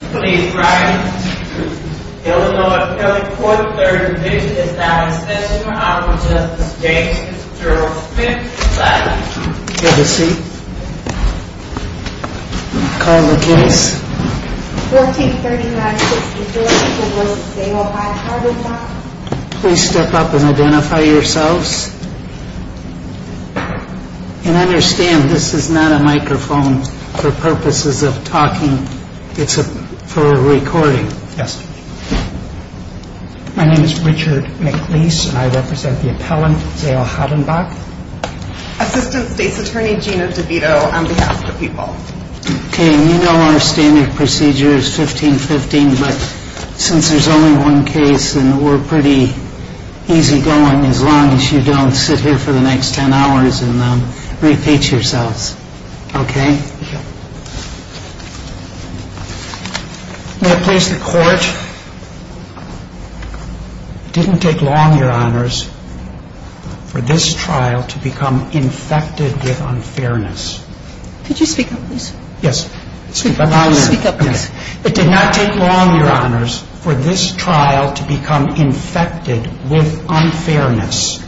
Please rise. The Illinois County Court of Third Division is now in session. I will now present the state's juror's fifth statement. Take a seat. Call the case. 1439 6th and Jordan v. St. Louis v. Hoddenbach Please step up and identify yourselves. And understand this is not a microphone for purposes of talking. It's for recording. My name is Richard McLeese and I represent the appellant, Zayle Hoddenbach. Assistant State's Attorney Gina DeVito on behalf of the people. You know our standard procedure is 15-15, but since there's only one case and we're pretty easy going, as long as you don't sit here for the next 10 hours and repeat yourselves. May I please the court? It didn't take long, your honors, for this trial to become infected with unfairness. Could you speak up, please? Yes. Speak up. Speak up, please. It did not take long, your honors, for this trial to become infected with unfairness.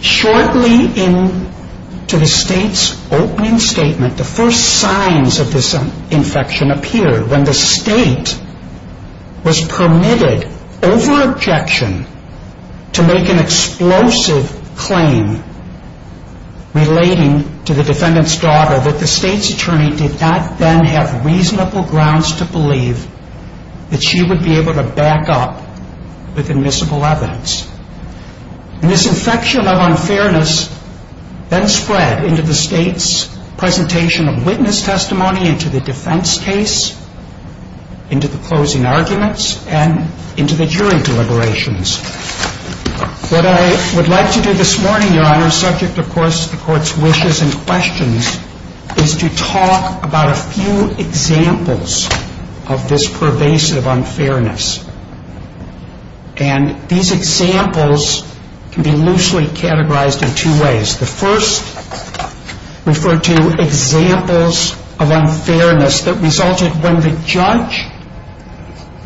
Shortly into the state's opening statement, the first signs of this infection appeared when the state was permitted, over objection, to make an explosive claim relating to the defendant's daughter that the state's attorney did not then have reasonable grounds to believe that she would be able to back up with admissible evidence. This infection of unfairness then spread into the state's presentation of witness testimony, into the defense case, into the closing arguments, and into the jury deliberations. What I would like to do this morning, your honors, subject of course to the court's wishes and questions, is to talk about a few examples of this pervasive unfairness. And these examples can be loosely categorized in two ways. The first referred to examples of unfairness that resulted when the judge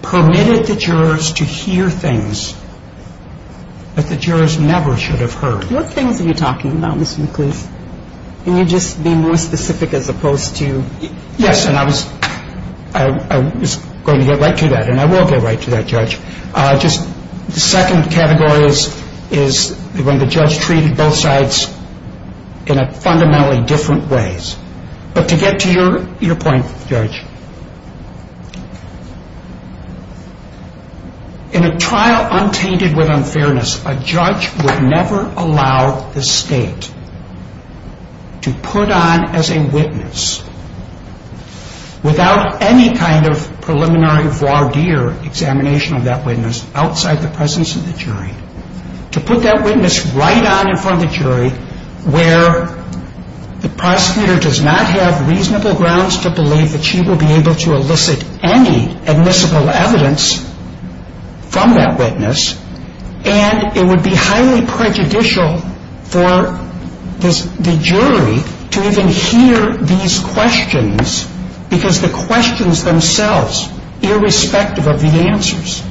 permitted the jurors to hear things that the jurors never should have heard. What things are you talking about, Mr. McLeish? Can you just be more specific as opposed to... Yes, and I was going to get right to that, and I will get right to that, Judge. Just the second category is when the judge treated both sides in fundamentally different ways. But to get to your point, Judge, in a trial untainted with unfairness, a judge would never allow the state to put on as a witness without any kind of preliminary voir dire examination of that witness outside the presence of the jury. To put that witness right on in front of the jury where the prosecutor does not have reasonable grounds to believe that she will be able to elicit any admissible evidence from that witness, and it would be highly prejudicial for the jury to even hear these questions because the questions themselves, irrespective of the answers,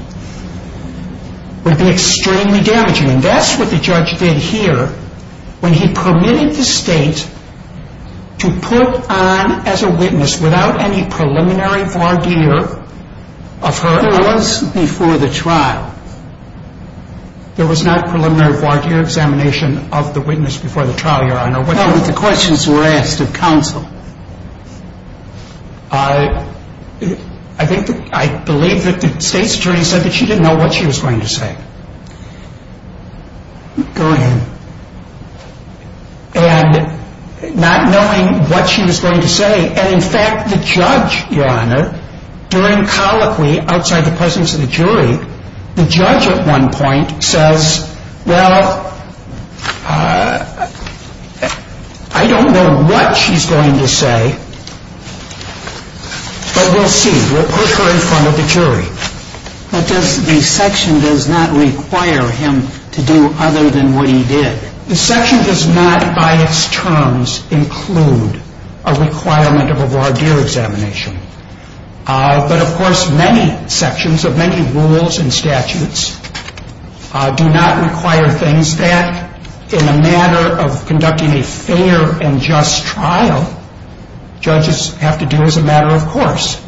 would be extremely damaging. And that's what the judge did here when he permitted the state to put on as a witness without any preliminary voir dire of her... There was before the trial. There was not preliminary voir dire examination of the witness before the trial, Your Honor. I believe that the state's attorney said that she didn't know what she was going to say. Go ahead. And not knowing what she was going to say, and in fact, the judge, Your Honor, during colloquy outside the presence of the jury, the judge at one point says, well, I don't know what she's going to say, but we'll see. We'll put her in front of the jury. But the section does not require him to do other than what he did. The section does not by its terms include a requirement of a voir dire examination. But, of course, many sections of many rules and statutes do not require things that, in a matter of conducting a fair and just trial, judges have to do as a matter of course.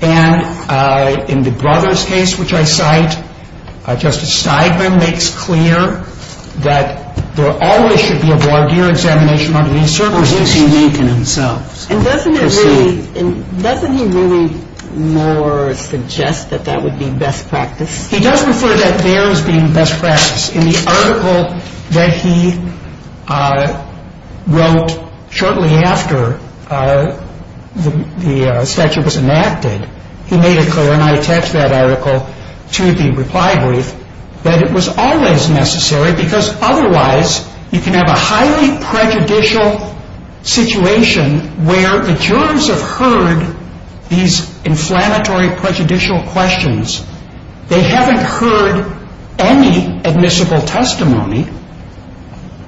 And in the Brothers case, which I cite, Justice Steigman makes clear that there always should be a voir dire examination. And doesn't he really more suggest that that would be best practice? He does refer to that there as being best practice. In the article that he wrote shortly after the statute was enacted, he made it clear, and I attached that article to the reply brief, that it was always necessary, because otherwise you can have a highly prejudicial situation where the jurors have heard these inflammatory prejudicial questions. They haven't heard any admissible testimony.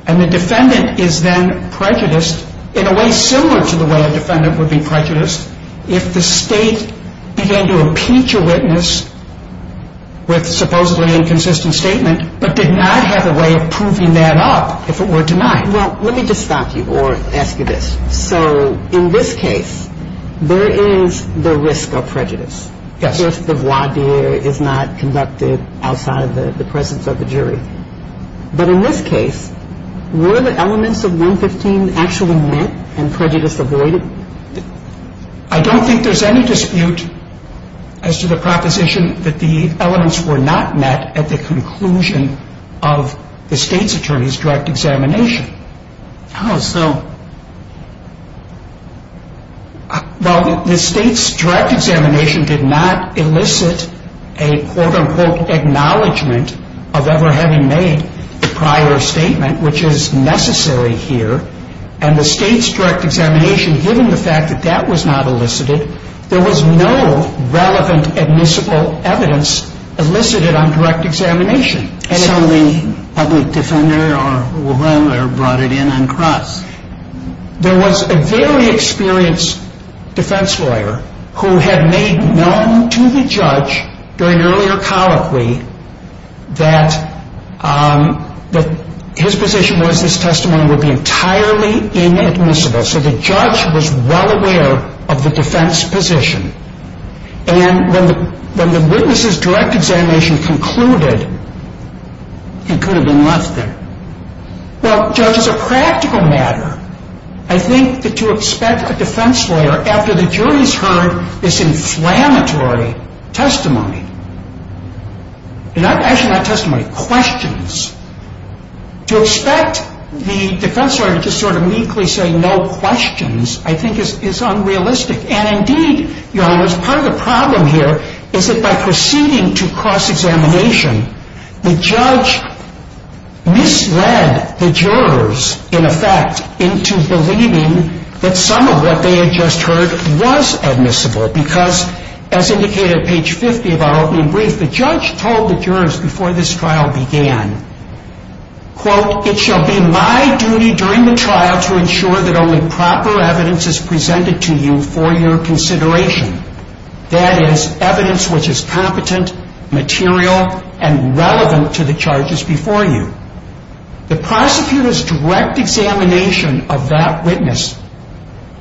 And the defendant is then prejudiced in a way similar to the way a defendant would be prejudiced if the state began to impeach a witness with a supposedly inconsistent statement but did not have a way of proving that up if it were denied. Well, let me just stop you or ask you this. So in this case, there is the risk of prejudice. Yes. If the voir dire is not conducted outside of the presence of the jury. But in this case, were the elements of 115 actually met and prejudice avoided? I don't think there's any dispute as to the proposition that the elements were not met at the conclusion of the state's attorney's direct examination. How so? Well, the state's direct examination did not elicit a quote-unquote acknowledgement of ever having made a prior statement, which is necessary here. And the state's direct examination, given the fact that that was not elicited, there was no relevant admissible evidence elicited on direct examination. So the public defender or lawyer brought it in uncrossed. There was a very experienced defense lawyer who had made known to the judge during earlier colloquy that his position was this testimony would be entirely inadmissible. So the judge was well aware of the defense position. And when the witness's direct examination concluded, he could have been left there. Well, judge, as a practical matter, I think that to expect a defense lawyer after the jury's heard this inflammatory testimony, actually not testimony, questions, to expect the defense lawyer to just sort of meekly say no questions I think is unrealistic. And indeed, Your Honor, part of the problem here is that by proceeding to cross-examination, the judge misled the jurors, in effect, into believing that some of what they had just heard was admissible because, as indicated at page 50 of our opening brief, the judge told the jurors before this trial began, quote, It shall be my duty during the trial to ensure that only proper evidence is presented to you for your consideration. That is, evidence which is competent, material, and relevant to the charges before you. The prosecutor's direct examination of that witness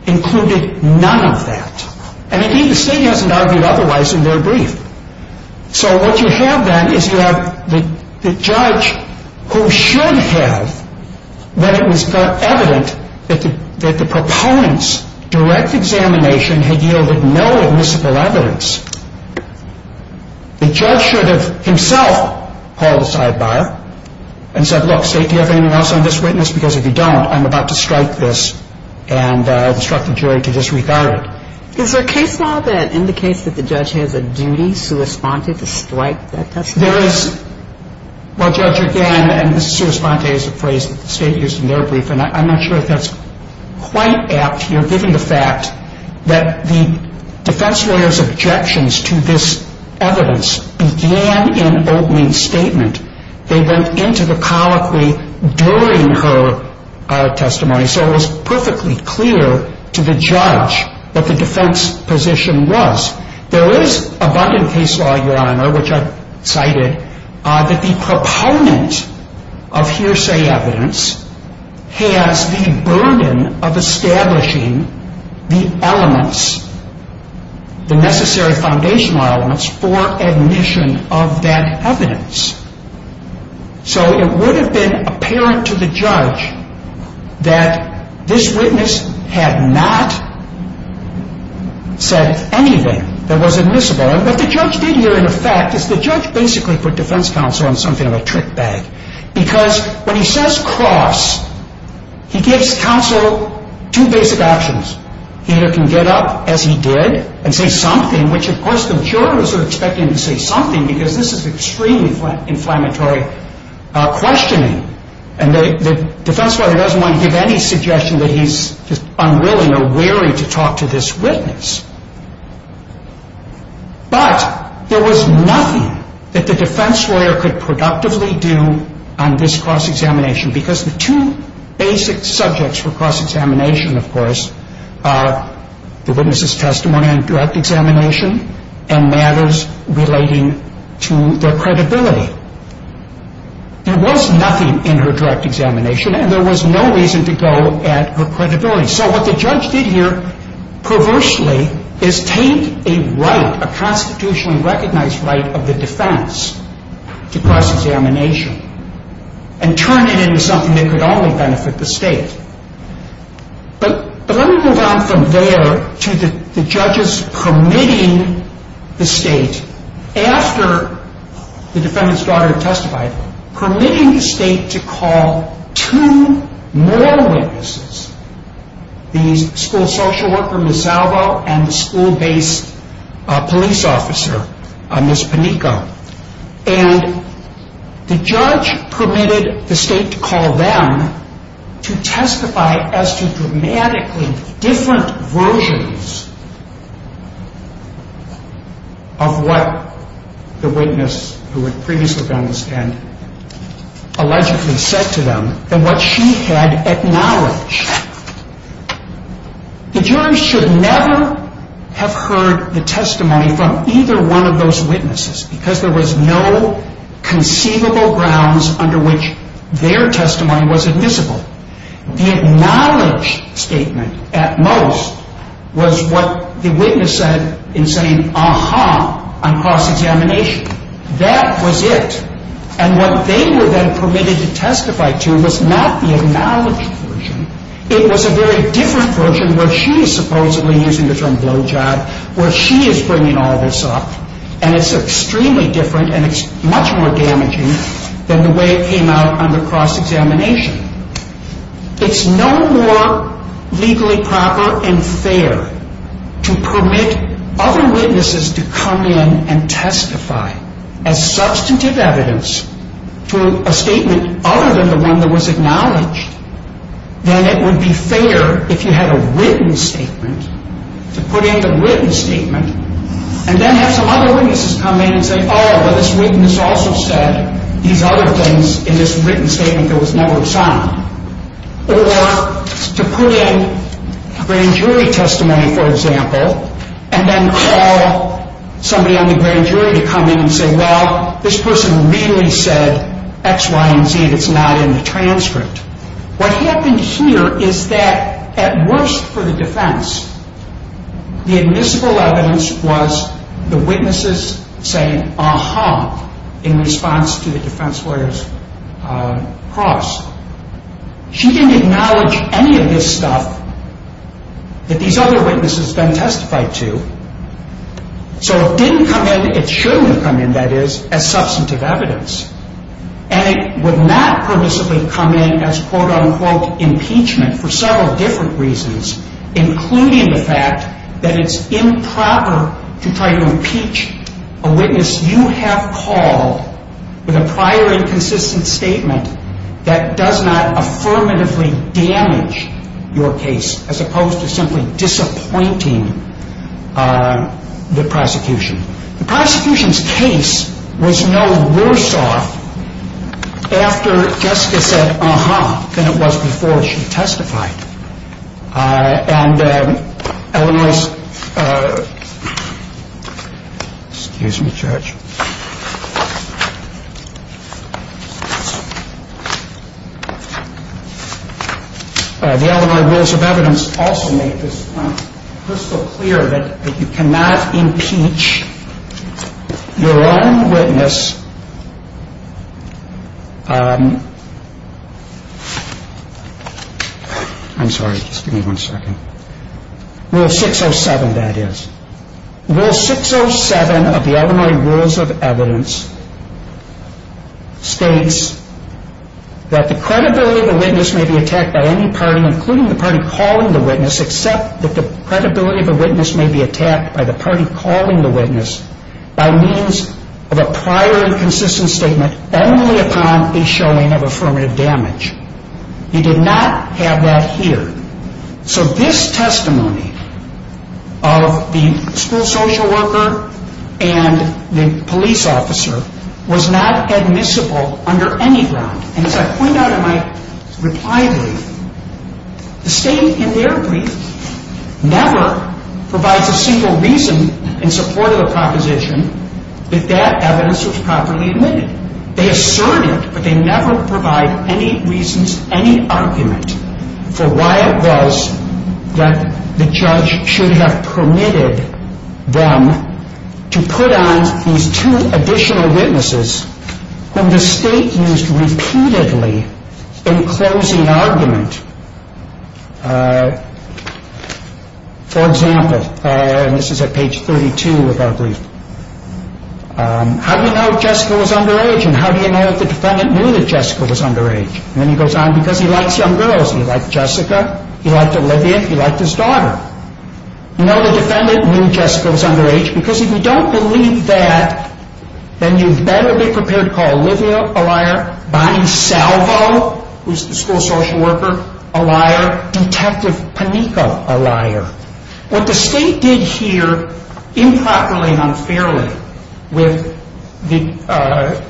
included none of that. And indeed, the state hasn't argued otherwise in their brief. So what you have then is you have the judge who should have, when it was evident that the proponent's direct examination had yielded no admissible evidence, the judge should have himself called a sidebar and said, Look, state, do you have anything else on this witness? Because if you don't, I'm about to strike this and instruct the jury to disregard it. Is there a case law that indicates that the judge has a duty, sua sponte, to strike that testimony? There is. Well, Judge, again, and sua sponte is a phrase that the state used in their brief, and I'm not sure if that's quite apt here, given the fact that the defense lawyer's objections to this evidence began in opening statement. They went into the colloquy during her testimony. So it was perfectly clear to the judge that the defense position was. There is abundant case law, Your Honor, which I cited, that the proponent of hearsay evidence has the burden of establishing the elements, the necessary foundational elements for admission of that evidence. So it would have been apparent to the judge that this witness had not said anything that was admissible. And what the judge did here, in effect, is the judge basically put defense counsel on something of a trick bag. Because when he says cross, he gives counsel two basic options. He either can get up, as he did, and say something, in which, of course, the jurors are expecting him to say something, because this is extremely inflammatory questioning. And the defense lawyer doesn't want to give any suggestion that he's unwilling or weary to talk to this witness. But there was nothing that the defense lawyer could productively do on this cross-examination, the witness's testimony on direct examination, and matters relating to their credibility. There was nothing in her direct examination, and there was no reason to go at her credibility. So what the judge did here, perversely, is take a right, a constitutionally recognized right of the defense to cross-examination, and turn it into something that could only benefit the state. But let me move on from there to the judges permitting the state, after the defendant's daughter testified, permitting the state to call two more witnesses, the school social worker, Ms. Salvo, and the school-based police officer, Ms. Panico. And the judge permitted the state to call them to testify as to dramatically different versions of what the witness, who had previously been on the stand, allegedly said to them, than what she had acknowledged. The jury should never have heard the testimony from either one of those witnesses, because there was no conceivable grounds under which their testimony was admissible. The acknowledged statement, at most, was what the witness said in saying, ah-ha, on cross-examination. That was it. And what they were then permitted to testify to was not the acknowledged version. It was a very different version where she is supposedly using the term blowjob, where she is bringing all this up, and it's extremely different, and it's much more damaging than the way it came out on the cross-examination. It's no more legally proper and fair to permit other witnesses to come in and testify as substantive evidence to a statement other than the one that was acknowledged. Then it would be fair, if you had a written statement, to put in the written statement and then have some other witnesses come in and say, oh, but this witness also said these other things in this written statement that was never signed. Or to put in grand jury testimony, for example, and then call somebody on the grand jury to come in and say, well, this person really said X, Y, and Z that's not in the transcript. What happened here is that, at worst for the defense, the admissible evidence was the witnesses saying, ah-ha, in response to the defense lawyer's cross. She didn't acknowledge any of this stuff that these other witnesses had been testified to. So it didn't come in, it shouldn't have come in, that is, as substantive evidence. And it would not permissibly come in as quote-unquote impeachment for several different reasons, including the fact that it's improper to try to impeach a witness you have called with a prior inconsistent statement that does not affirmatively damage your case, as opposed to simply disappointing the prosecution. The prosecution's case was no worse off after Jessica said, ah-ha, than it was before she testified. And LMI's, excuse me, Judge. The LMI rules of evidence also make this crystal clear that you cannot impeach your own witness I'm sorry, just give me one second. Rule 607, that is. Rule 607 of the LMI rules of evidence states that the credibility of a witness may be attacked by any party, including the party calling the witness, except that the credibility of a witness may be attacked by the party calling the witness by means of a prior inconsistent statement only upon a showing of affirmative damage. You did not have that here. So this testimony of the school social worker and the police officer was not admissible under any ground. And as I point out in my reply brief, the state in their brief never provides a single reason in support of a proposition that that evidence was properly admitted. They assert it, but they never provide any reasons, any argument, for why it was that the judge should have permitted them to put on these two additional witnesses whom the state used repeatedly in closing argument. For example, and this is at page 32 of our brief, how do you know Jessica was underage? And how do you know that the defendant knew that Jessica was underage? And then he goes on, because he likes young girls. He liked Jessica, he liked Olivia, he liked his daughter. You know the defendant knew Jessica was underage, because if you don't believe that, then you'd better be prepared to call Olivia a liar, Bonnie Salvo, who's the school social worker, a liar, Detective Panico a liar. What the state did here improperly and unfairly with the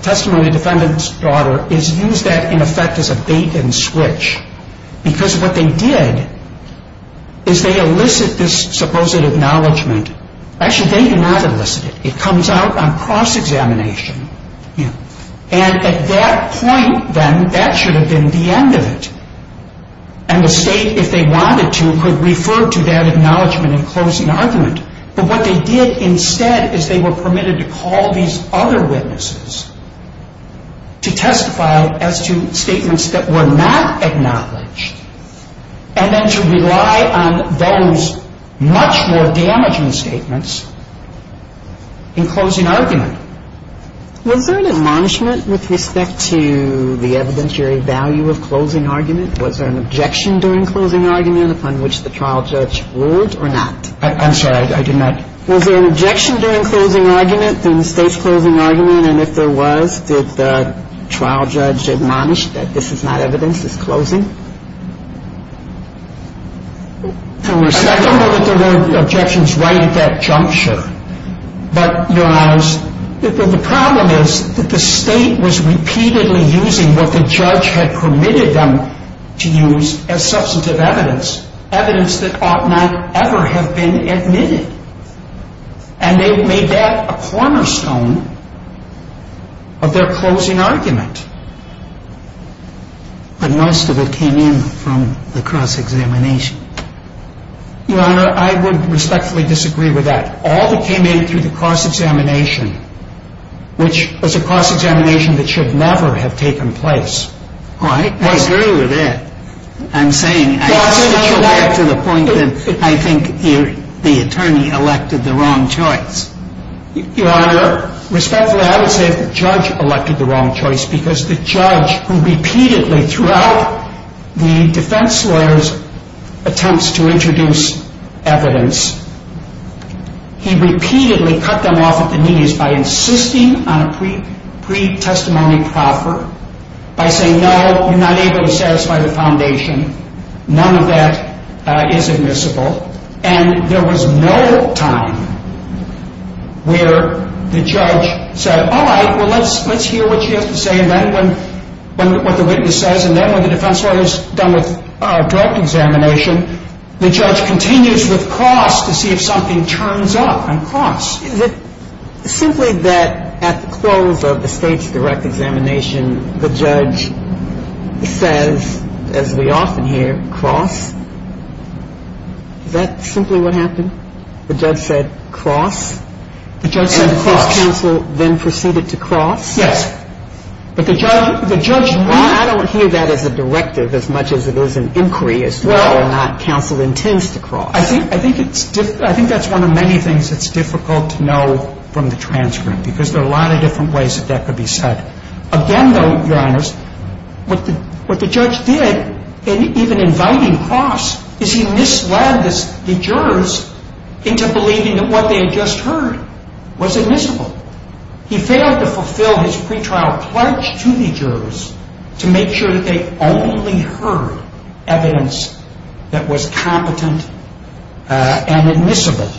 testimony of the defendant's daughter is use that in effect as a bait and switch. Because what they did is they elicit this supposed acknowledgment. Actually, they do not elicit it. It comes out on cross-examination. And at that point, then, that should have been the end of it. And the state, if they wanted to, could refer to that acknowledgment in closing argument. But what they did instead is they were permitted to call these other witnesses to testify as to statements that were not acknowledged and then to rely on those much more damaging statements in closing argument. Was there an admonishment with respect to the evidentiary value of closing argument? Was there an objection during closing argument upon which the trial judge ruled or not? I'm sorry, I did not. Was there an objection during closing argument, during the state's closing argument? And if there was, did the trial judge admonish that this is not evidence, this is closing? I don't know that there were objections right at that juncture. But, Your Honors, the problem is that the state was repeatedly using what the judge had permitted them to use as substantive evidence, evidence that ought not ever have been admitted. And they made that a cornerstone of their closing argument. But most of it came in from the cross-examination. Your Honor, I would respectfully disagree with that. All that came in through the cross-examination, which was a cross-examination that should never have taken place. Oh, I agree with that. I'm saying, I still get to the point that I think the attorney elected the wrong choice. Your Honor, respectfully, I would say the judge elected the wrong choice because the judge, who repeatedly, throughout the defense lawyers' attempts to introduce evidence, he repeatedly cut them off at the knees by insisting on a pre-testimony proffer, by saying, no, you're not able to satisfy the foundation. None of that is admissible. And there was no time where the judge said, all right, well, let's hear what she has to say. And then when, what the witness says, and then when the defense lawyers are done with direct examination, the judge continues with cross to see if something turns up on cross. Is it simply that at the close of the state's direct examination, the judge says, as we often hear, cross? Is that simply what happened? The judge said cross? The judge said cross. And the first counsel then proceeded to cross? Yes. But the judge, the judge. I don't hear that as a directive as much as it is an inquiry as to whether or not counsel intends to cross. I think that's one of many things that's difficult to know from the transcript, because there are a lot of different ways that that could be said. Again, though, Your Honors, what the judge did in even inviting cross is he misled the jurors into believing that what they had just heard was admissible. He failed to fulfill his pretrial pledge to the jurors to make sure that they only heard evidence that was competent and admissible.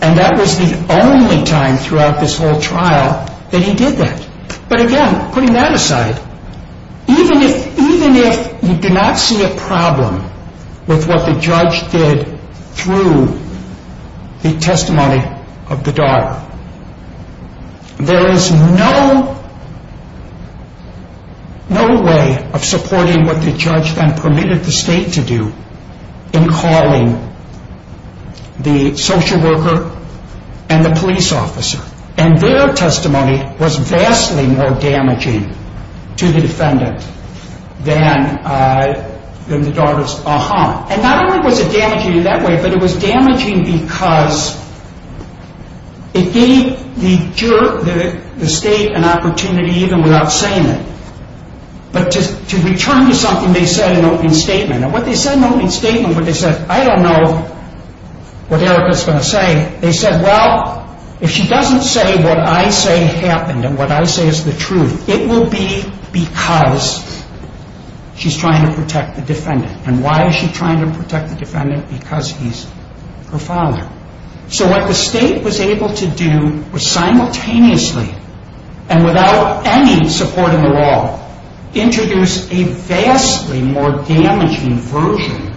And that was the only time throughout this whole trial that he did that. But, again, putting that aside, even if you do not see a problem with what the judge did through the testimony of the daughter, there is no way of supporting what the judge then permitted the state to do in calling the social worker and the police officer. And their testimony was vastly more damaging to the defendant than the daughter's. And not only was it damaging in that way, but it was damaging because it gave the state an opportunity even without saying it, but to return to something they said in opening statement. And what they said in opening statement when they said, I don't know what Erica is going to say, they said, well, if she doesn't say what I say happened and what I say is the truth, it will be because she's trying to protect the defendant. And why is she trying to protect the defendant? Because he's her father. So what the state was able to do was simultaneously, and without any support in the law, introduce a vastly more damaging version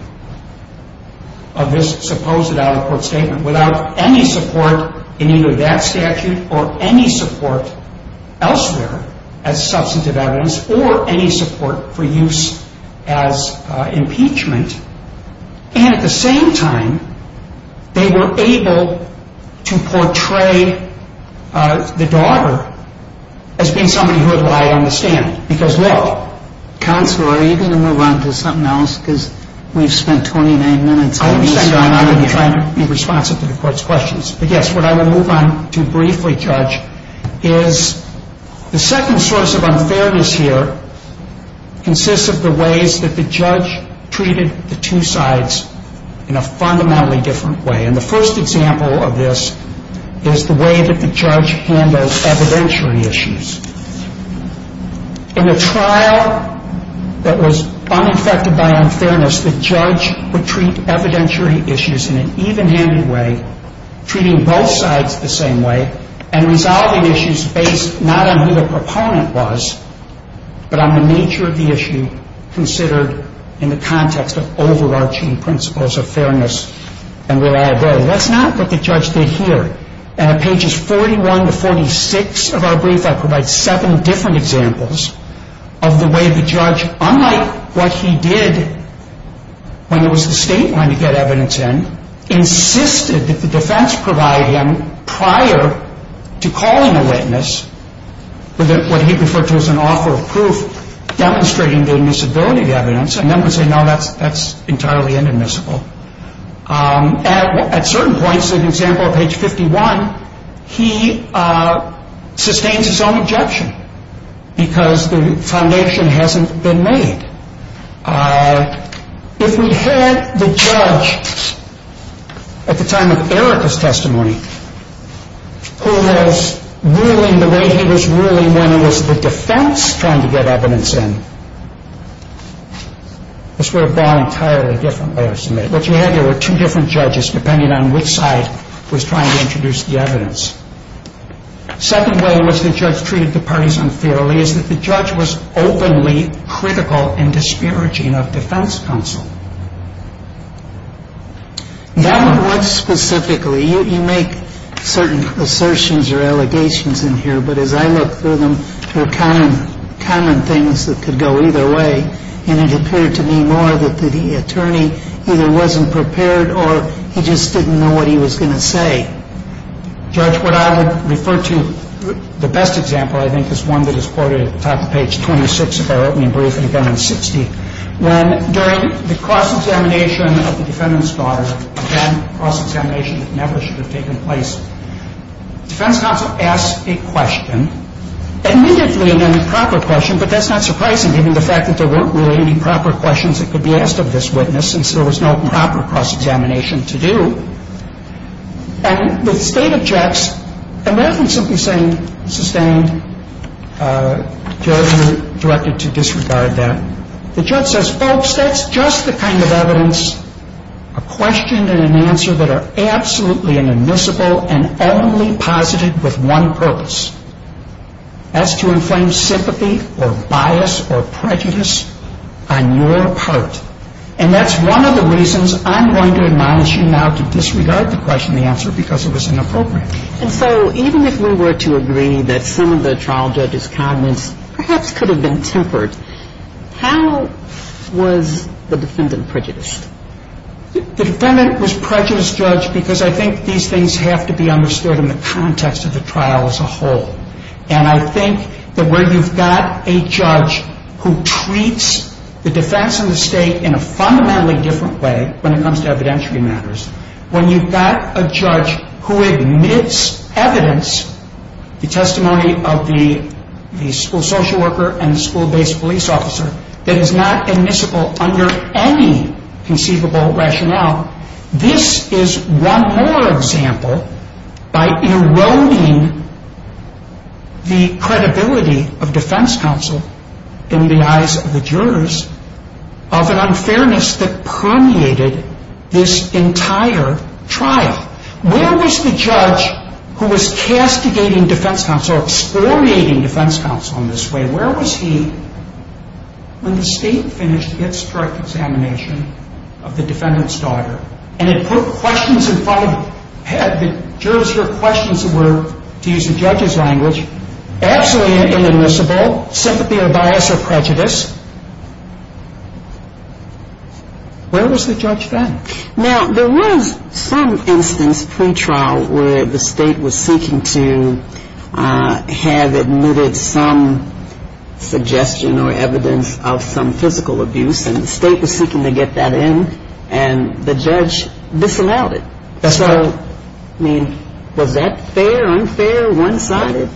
of this supposed out-of-court statement without any support in either that statute or any support elsewhere as substantive evidence or any support for use as impeachment. And at the same time, they were able to portray the daughter as being somebody who relied on the stand. Because, look... Counselor, are you going to move on to something else? Because we've spent 29 minutes... And I'm going to be trying to be responsive to the court's questions. But yes, what I will move on to briefly, Judge, is the second source of unfairness here consists of the ways that the judge treated the two sides in a fundamentally different way. And the first example of this is the way that the judge handled evidentiary issues. In a trial that was uninfected by unfairness, the judge would treat evidentiary issues in an even-handed way, treating both sides the same way, and resolving issues based not on who the proponent was, but on the nature of the issue considered in the context of overarching principles of fairness and reliability. That's not what the judge did here. And at pages 41 to 46 of our brief, I provide seven different examples of the way the judge, unlike what he did when it was the state line to get evidence in, insisted that the defense provide him, prior to calling a witness, what he referred to as an offer of proof, demonstrating the admissibility of the evidence, and then would say, no, that's entirely inadmissible. At certain points, an example of page 51, he sustains his own objection because the foundation hasn't been made. If we had the judge, at the time of Erica's testimony, who was ruling the way he was ruling when it was the defense trying to get evidence in, this would have been an entirely different way of submitting. What you had there were two different judges, depending on which side was trying to introduce the evidence. The second way in which the judge treated the parties unfairly is that the judge was openly critical and disparaging of defense counsel. Now, what specifically? You make certain assertions or allegations in here, but as I look through them, there are common things that could go either way, and it appeared to me more that the attorney either wasn't prepared or he just didn't know what he was going to say. Judge, what I would refer to, the best example, I think, is one that is quoted at the top of page 26 of our opening briefing, again, in 60, when, during the cross-examination of the defendant's daughter, again, cross-examination that never should have taken place, defense counsel asks a question, admittedly an improper question, but that's not surprising, given the fact that there weren't really any proper questions that could be asked of this witness, since there was no proper cross-examination to do. And the state objects. Imagine simply saying, sustained. Judge, you're directed to disregard that. The judge says, folks, that's just the kind of evidence, a question and an answer that are absolutely inadmissible and only posited with one purpose. That's to inflame sympathy or bias or prejudice on your part. And that's one of the reasons I'm going to admonish you now to disregard the question and the answer because it was inappropriate. And so even if we were to agree that some of the trial judge's comments perhaps could have been tempered, how was the defendant prejudiced? The defendant was prejudiced, Judge, because I think these things have to be understood in the context of the trial as a whole. And I think that where you've got a judge who treats the defense and the state in a fundamentally different way when it comes to evidentiary matters, when you've got a judge who admits evidence, the testimony of the school social worker and the school-based police officer that is not admissible under any conceivable rationale, this is one more example by eroding the credibility of defense counsel in the eyes of the jurors of an unfairness that permeated this entire trial. Where was the judge who was castigating defense counsel, explorating defense counsel in this way, where was he when the state finished its direct examination of the defendant's daughter and it put questions in front of the head, the jurors hear questions that were, to use the judge's language, absolutely inadmissible, sympathy or bias or prejudice, where was the judge then? Now, there was some instance pre-trial where the state was seeking to have admitted some suggestion or evidence of some physical abuse and the state was seeking to get that in and the judge disallowed it. So, I mean, was that fair, unfair, one-sided?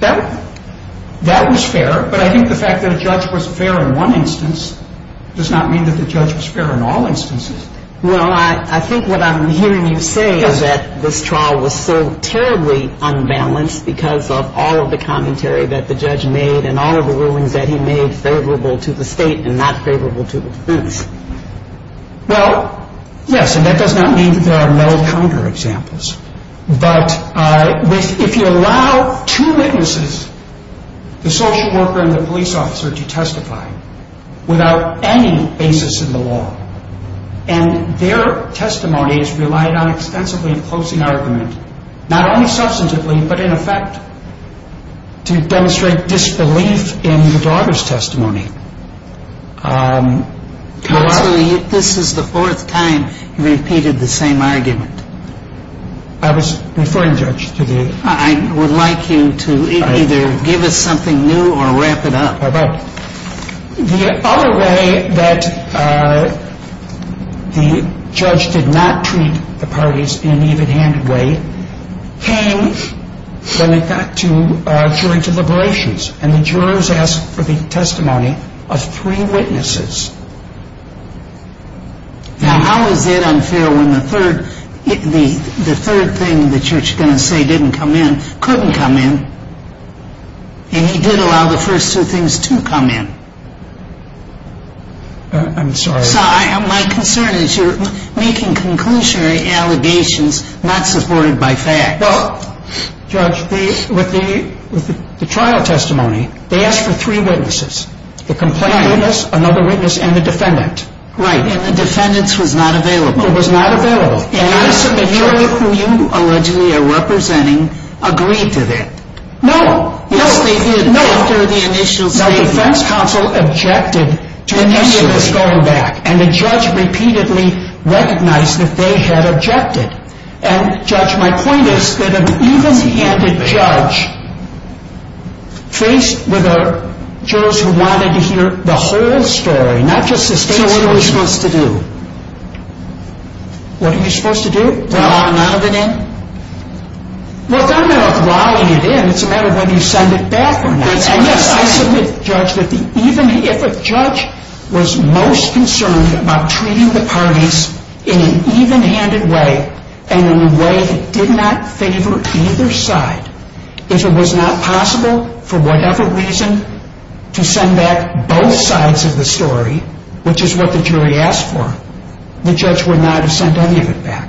That was fair, but I think the fact that a judge was fair in one instance does not mean that the judge was fair in all instances. Well, I think what I'm hearing you say is that this trial was so terribly unbalanced because of all of the commentary that the judge made and all of the rulings that he made favorable to the state and not favorable to the police. Well, yes, and that does not mean that there are no counter-examples, but if you allow two witnesses, the social worker and the police officer, to testify without any basis in the law, and their testimonies relied on extensively enclosing argument, not only substantively but in effect to demonstrate disbelief in the daughter's testimony. This is the fourth time you've repeated the same argument. I was referring, Judge, to the... I would like you to either give us something new or wrap it up. The other way that the judge did not treat the parties in an even-handed way came when it got to jury deliberations, and the jurors asked for the testimony of three witnesses. Now, how is it unfair when the third thing the church is going to say didn't come in, and he did allow the first two things to come in? I'm sorry. So my concern is you're making conclusionary allegations not supported by fact. Well, Judge, with the trial testimony, they asked for three witnesses, the complainant, another witness, and the defendant. Right, and the defendant's was not available. It was not available. The jury whom you allegedly are representing agreed to that. No. Yes, they did after the initial statement. No, but the defense counsel objected to any of this going back, and the judge repeatedly recognized that they had objected. And, Judge, my point is that an even-handed judge faced with jurors who wanted to hear the whole story, not just the state's version. So what are we supposed to do? What are we supposed to do? Lolling none of it in? Well, it's not a matter of lolling it in. It's a matter of whether you send it back or not. I submit, Judge, that if a judge was most concerned about treating the parties in an even-handed way and in a way that did not favor either side, if it was not possible for whatever reason to send back both sides of the story, which is what the jury asked for, the judge would not have sent any of it back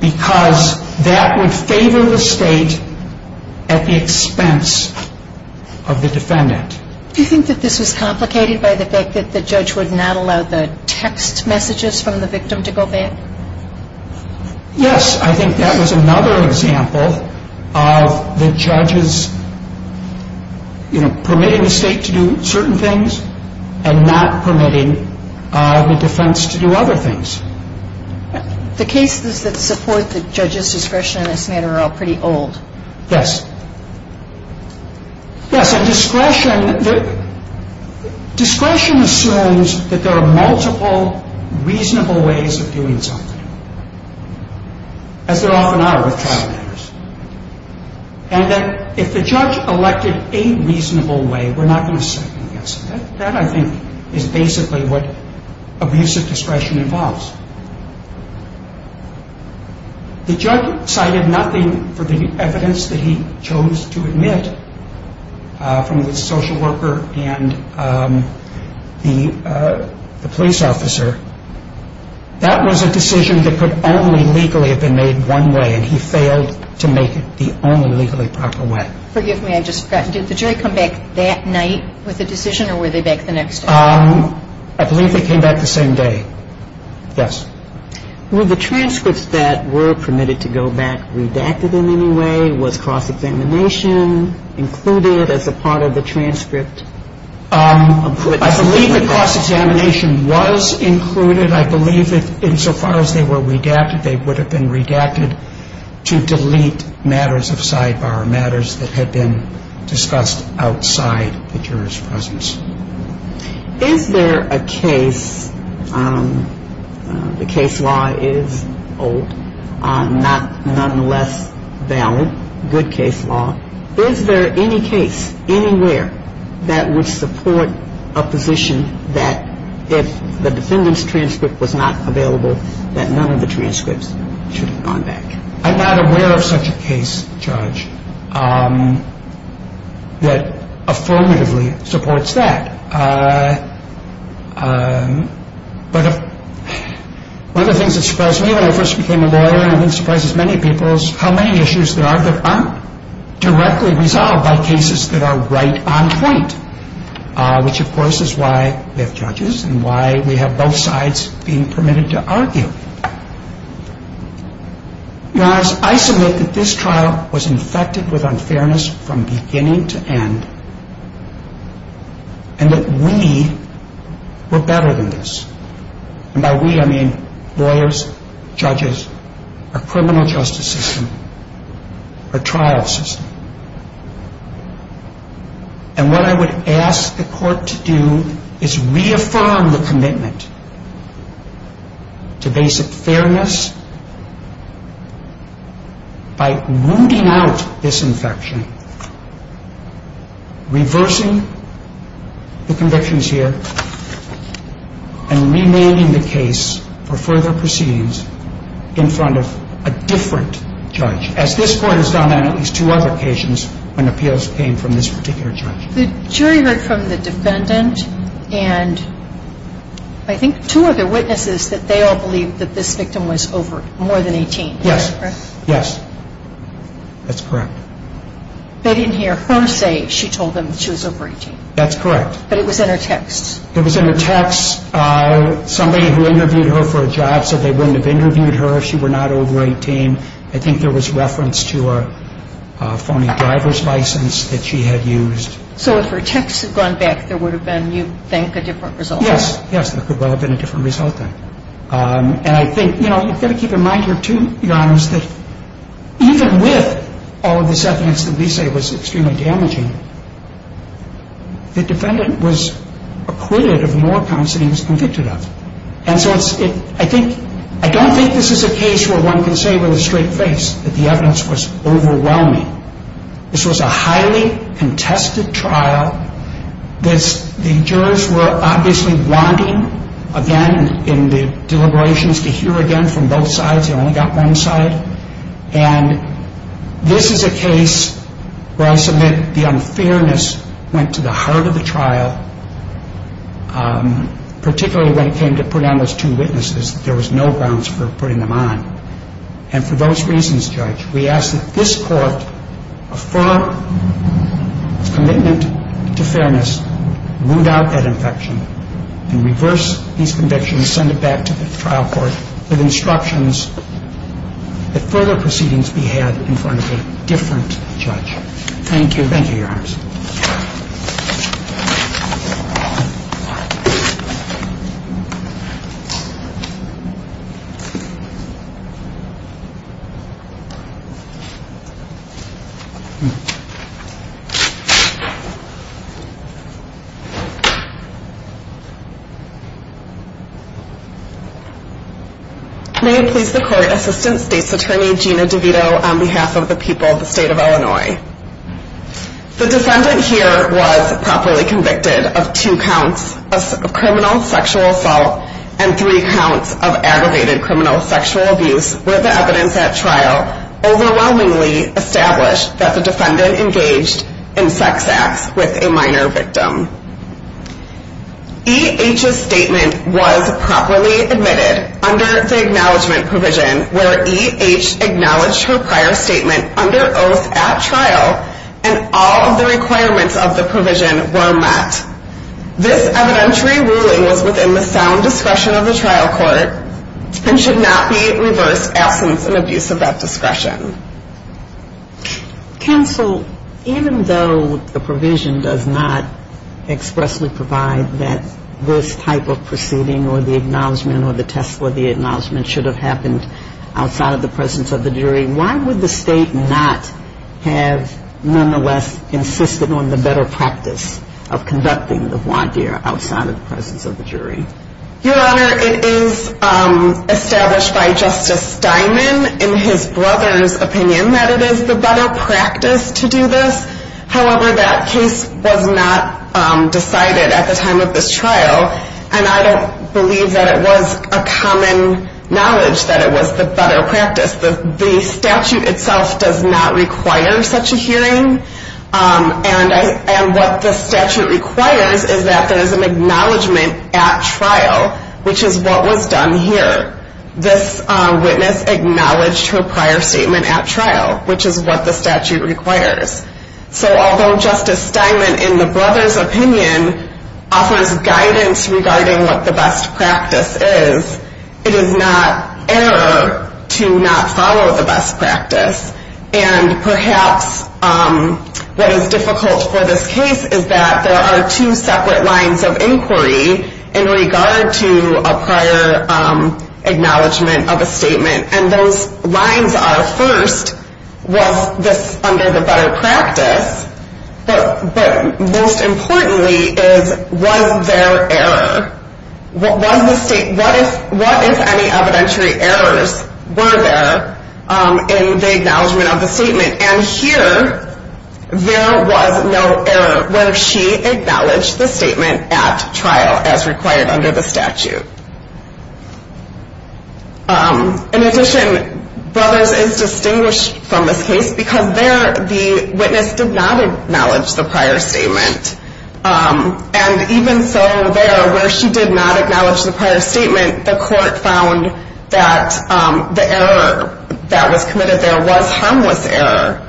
because that would favor the state at the expense of the defendant. Do you think that this was complicated by the fact that the judge would not allow the text messages from the victim to go back? Yes. I think that was another example of the judge's, you know, permitting the state to do certain things and not permitting the defense to do other things. The cases that support the judge's discretion in this matter are all pretty old. Yes. Yes, and discretion assumes that there are multiple reasonable ways of doing something, as there often are with trial matters, and that if the judge elected a reasonable way, we're not going to second-guess it. That, I think, is basically what abusive discretion involves. The judge cited nothing for the evidence that he chose to admit from the social worker and the police officer. That was a decision that could only legally have been made one way, and he failed to make it the only legally proper way. Forgive me, I just forgot. Did the jury come back that night with the decision, or were they back the next day? I believe they came back the same day. Yes. Were the transcripts that were permitted to go back redacted in any way? Was cross-examination included as a part of the transcript? I believe that cross-examination was included. I believe that insofar as they were redacted, they would have been redacted to delete matters of sidebar, matters that had been discussed outside the juror's presence. Is there a case, the case law is old, nonetheless valid, good case law, is there any case anywhere that would support a position that if the defendant's transcript was not available, that none of the transcripts should have gone back? I'm not aware of such a case, Judge, that affirmatively supports that. But one of the things that surprised me when I first became a lawyer, and I think surprises many people, is how many issues there are that aren't directly resolved by cases that are right on point, which, of course, is why we have judges, and why we have both sides being permitted to argue. I submit that this trial was infected with unfairness from beginning to end, and that we were better than this. And by we, I mean lawyers, judges, a criminal justice system, a trial system. And what I would ask the court to do is reaffirm the commitment to basic fairness by wounding out this infection, reversing the convictions here, and remanding the case for further proceedings in front of a different judge. As this Court has done on at least two other occasions when appeals came from this particular judge. The jury heard from the defendant and I think two other witnesses that they all believed that this victim was over more than 18. Yes. Is that correct? Yes. That's correct. They didn't hear her say she told them she was over 18. That's correct. But it was in her text. It was in her text. Somebody who interviewed her for a job said they wouldn't have interviewed her if she were not over 18. I think there was reference to a phony driver's license that she had used. So if her text had gone back, there would have been, you think, a different result? Yes. Yes, there could well have been a different result then. And I think, you know, you've got to keep in mind here too, Your Honors, that even with all of this evidence that we say was extremely damaging, the defendant was acquitted of more counts than he was convicted of. And so I don't think this is a case where one can say with a straight face that the evidence was overwhelming. This was a highly contested trial. The jurors were obviously wanting, again, in the deliberations, to hear again from both sides. They only got one side. And this is a case where I submit the unfairness went to the heart of the trial, particularly when it came to putting on those two witnesses. There was no grounds for putting them on. And for those reasons, Judge, we ask that this court affirm its commitment to fairness, root out that infection, and reverse these convictions, send it back to the trial court with instructions that further proceedings be had in front of a different judge. Thank you. Thank you, Your Honors. Thank you. May it please the Court, Assistant State's Attorney Gina DeVito on behalf of the people of the State of Illinois. The defendant here was properly convicted of two counts of criminal sexual assault and three counts of aggravated criminal sexual abuse, where the evidence at trial overwhelmingly established that the defendant engaged in sex acts with a minor victim. E.H.'s statement was properly admitted under the acknowledgement provision where E.H. acknowledged her prior statement under oath at trial and all of the requirements of the provision were met. This evidentiary ruling was within the sound discretion of the trial court and should not be reversed absence and abuse of that discretion. Counsel, even though the provision does not expressly provide that this type of proceeding or the acknowledgement or the test for the acknowledgement should have happened outside of the presence of the jury, why would the State not have nonetheless insisted on the better practice of conducting the voir dire outside of the presence of the jury? Your Honor, it is established by Justice Steinman in his brother's opinion that it is the better practice to do this. However, that case was not decided at the time of this trial and I don't believe that it was a common knowledge that it was the better practice. The statute itself does not require such a hearing and what the statute requires is that there is an acknowledgement at trial, which is what was done here. This witness acknowledged her prior statement at trial, which is what the statute requires. So although Justice Steinman in the brother's opinion offers guidance regarding what the best practice is, it is not error to not follow the best practice. And perhaps what is difficult for this case is that there are two separate lines of inquiry in regard to a prior acknowledgement of a statement. And those lines are first, was this under the better practice? But most importantly is, was there error? What if any evidentiary errors were there in the acknowledgement of the statement? And here, there was no error where she acknowledged the statement at trial as required under the statute. In addition, brothers is distinguished from this case because there the witness did not acknowledge the prior statement. And even so there, where she did not acknowledge the prior statement, the court found that the error that was committed there was harmless error.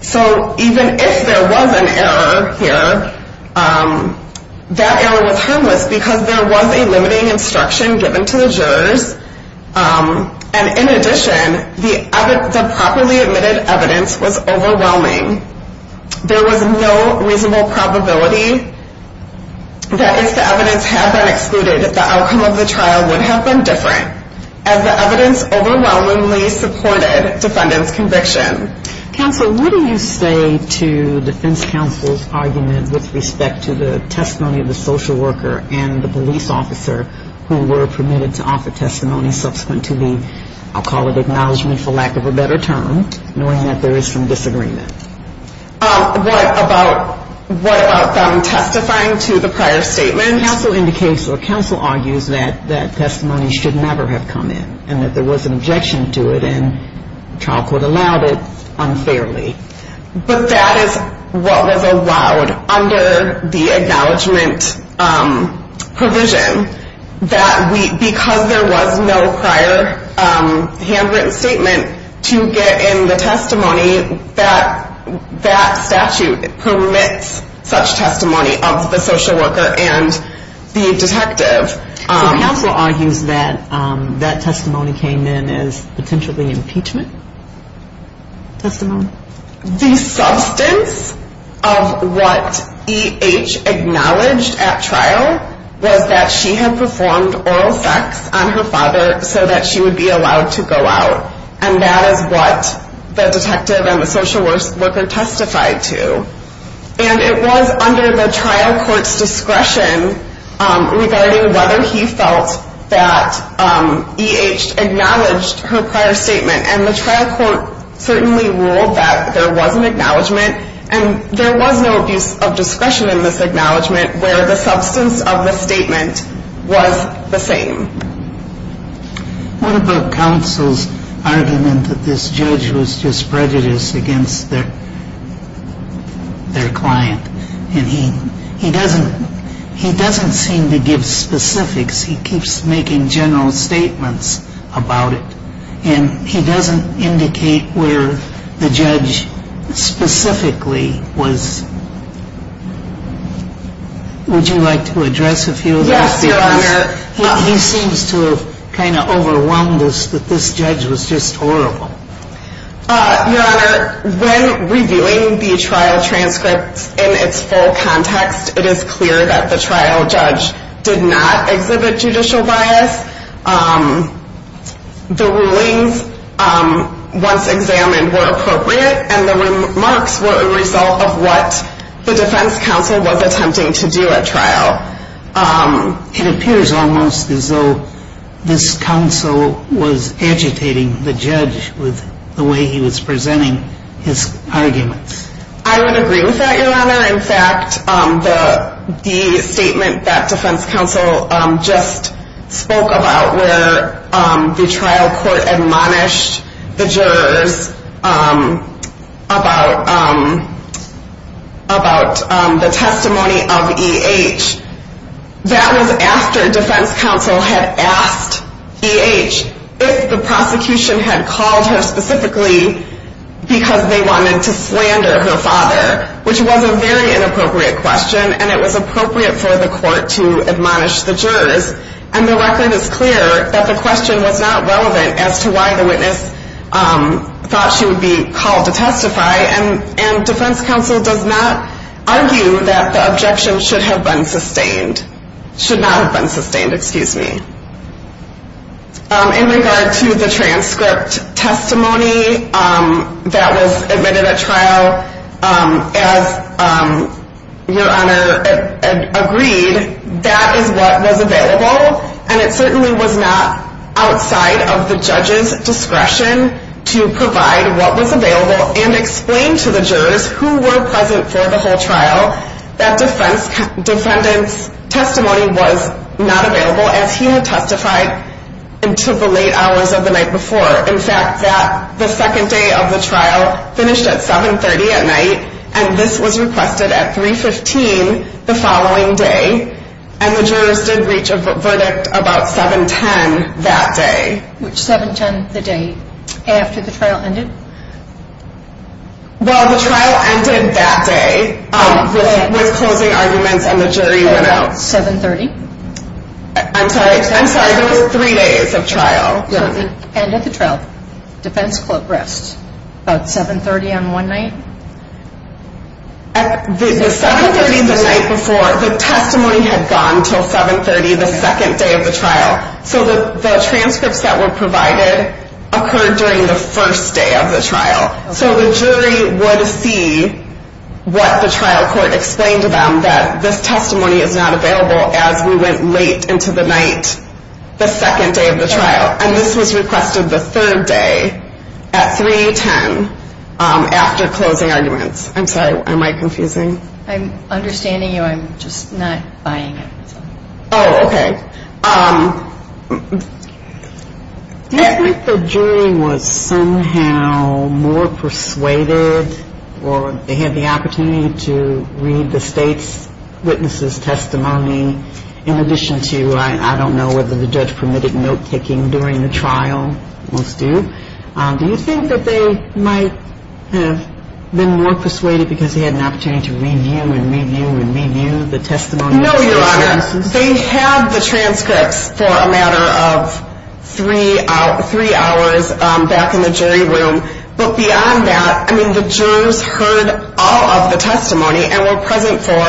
So even if there was an error here, that error was harmless because there was a limiting instruction given to the jurors. And in addition, the properly admitted evidence was overwhelming. There was no reasonable probability that if the evidence had been excluded, the outcome of the trial would have been different, as the evidence overwhelmingly supported defendant's conviction. Counsel, what do you say to defense counsel's argument with respect to the testimony of the social worker and the police officer who were permitted to offer testimony subsequent to the, I'll call it acknowledgement for lack of a better term, knowing that there is some disagreement? What about from testifying to the prior statement? Counsel argues that that testimony should never have come in and that there was an objection to it and trial court allowed it unfairly. But that is what was allowed under the acknowledgement provision that we, because there was no prior handwritten statement to get in the testimony, that that statute permits such testimony of the social worker and the detective. Counsel argues that that testimony came in as potentially impeachment testimony? The substance of what E.H. acknowledged at trial was that she had performed oral sex on her father so that she would be allowed to go out. And that is what the detective and the social worker testified to. And it was under the trial court's discretion regarding whether he felt that E.H. acknowledged her prior statement and the trial court certainly ruled that there was an acknowledgement and there was no abuse of discretion in this acknowledgement where the substance of the statement was the same. What about counsel's argument that this judge was just prejudiced against their, their client and he, he doesn't, he doesn't seem to give specifics. He keeps making general statements about it. And he doesn't indicate where the judge specifically was. Would you like to address a few of those? Yes, Your Honor. He seems to have kind of overwhelmed us that this judge was just horrible. Your Honor, when reviewing the trial transcripts in its full context, it is clear that the trial judge did not exhibit judicial bias. The rulings once examined were appropriate and the remarks were a result of what the defense counsel was attempting to do at trial. It appears almost as though this counsel was agitating the judge with the way he was presenting his arguments. I would agree with that, Your Honor. In fact, the statement that defense counsel just spoke about where the trial court admonished the jurors about, about the testimony of E.H., if the prosecution had called her specifically because they wanted to slander her father, which was a very inappropriate question. And it was appropriate for the court to admonish the jurors. And the record is clear that the question was not relevant as to why the witness thought she would be called to testify. And, and defense counsel does not argue that the objection should have been sustained, should not have been sustained, excuse me. In regard to the transcript testimony that was admitted at trial, as Your Honor agreed, that is what was available. And it certainly was not outside of the judge's discretion to provide what was available and explain to the jurors who were present for the whole trial. That defense, defendant's testimony was not available as he had testified until the late hours of the night before. In fact, that, the second day of the trial finished at 7.30 at night, and this was requested at 3.15 the following day. And the jurors did reach a verdict about 7.10 that day. Which 7.10 the day after the trial ended? Well, the trial ended that day with closing arguments and the jury went out. At about 7.30? I'm sorry, I'm sorry, there was three days of trial. And at the trial, defense clerk rests about 7.30 on one night? The 7.30 the night before, the testimony had gone until 7.30, the second day of the trial. So the transcripts that were provided occurred during the first day of the trial. So the jury would see what the trial court explained to them, that this testimony is not available as we went late into the night, the second day of the trial. And this was requested the third day at 3.10 after closing arguments. I'm sorry, am I confusing? I'm understanding you, I'm just not buying it. Oh, okay. Do you think the jury was somehow more persuaded or they had the opportunity to read the state's witness' testimony in addition to, I don't know, whether the judge permitted note-taking during the trial? Most do. Do you think that they might have been more persuaded because they had an opportunity to review and review and review the testimony? No, Your Honor. They had the transcripts for a matter of three hours back in the jury room. But beyond that, I mean, the jurors heard all of the testimony and were present for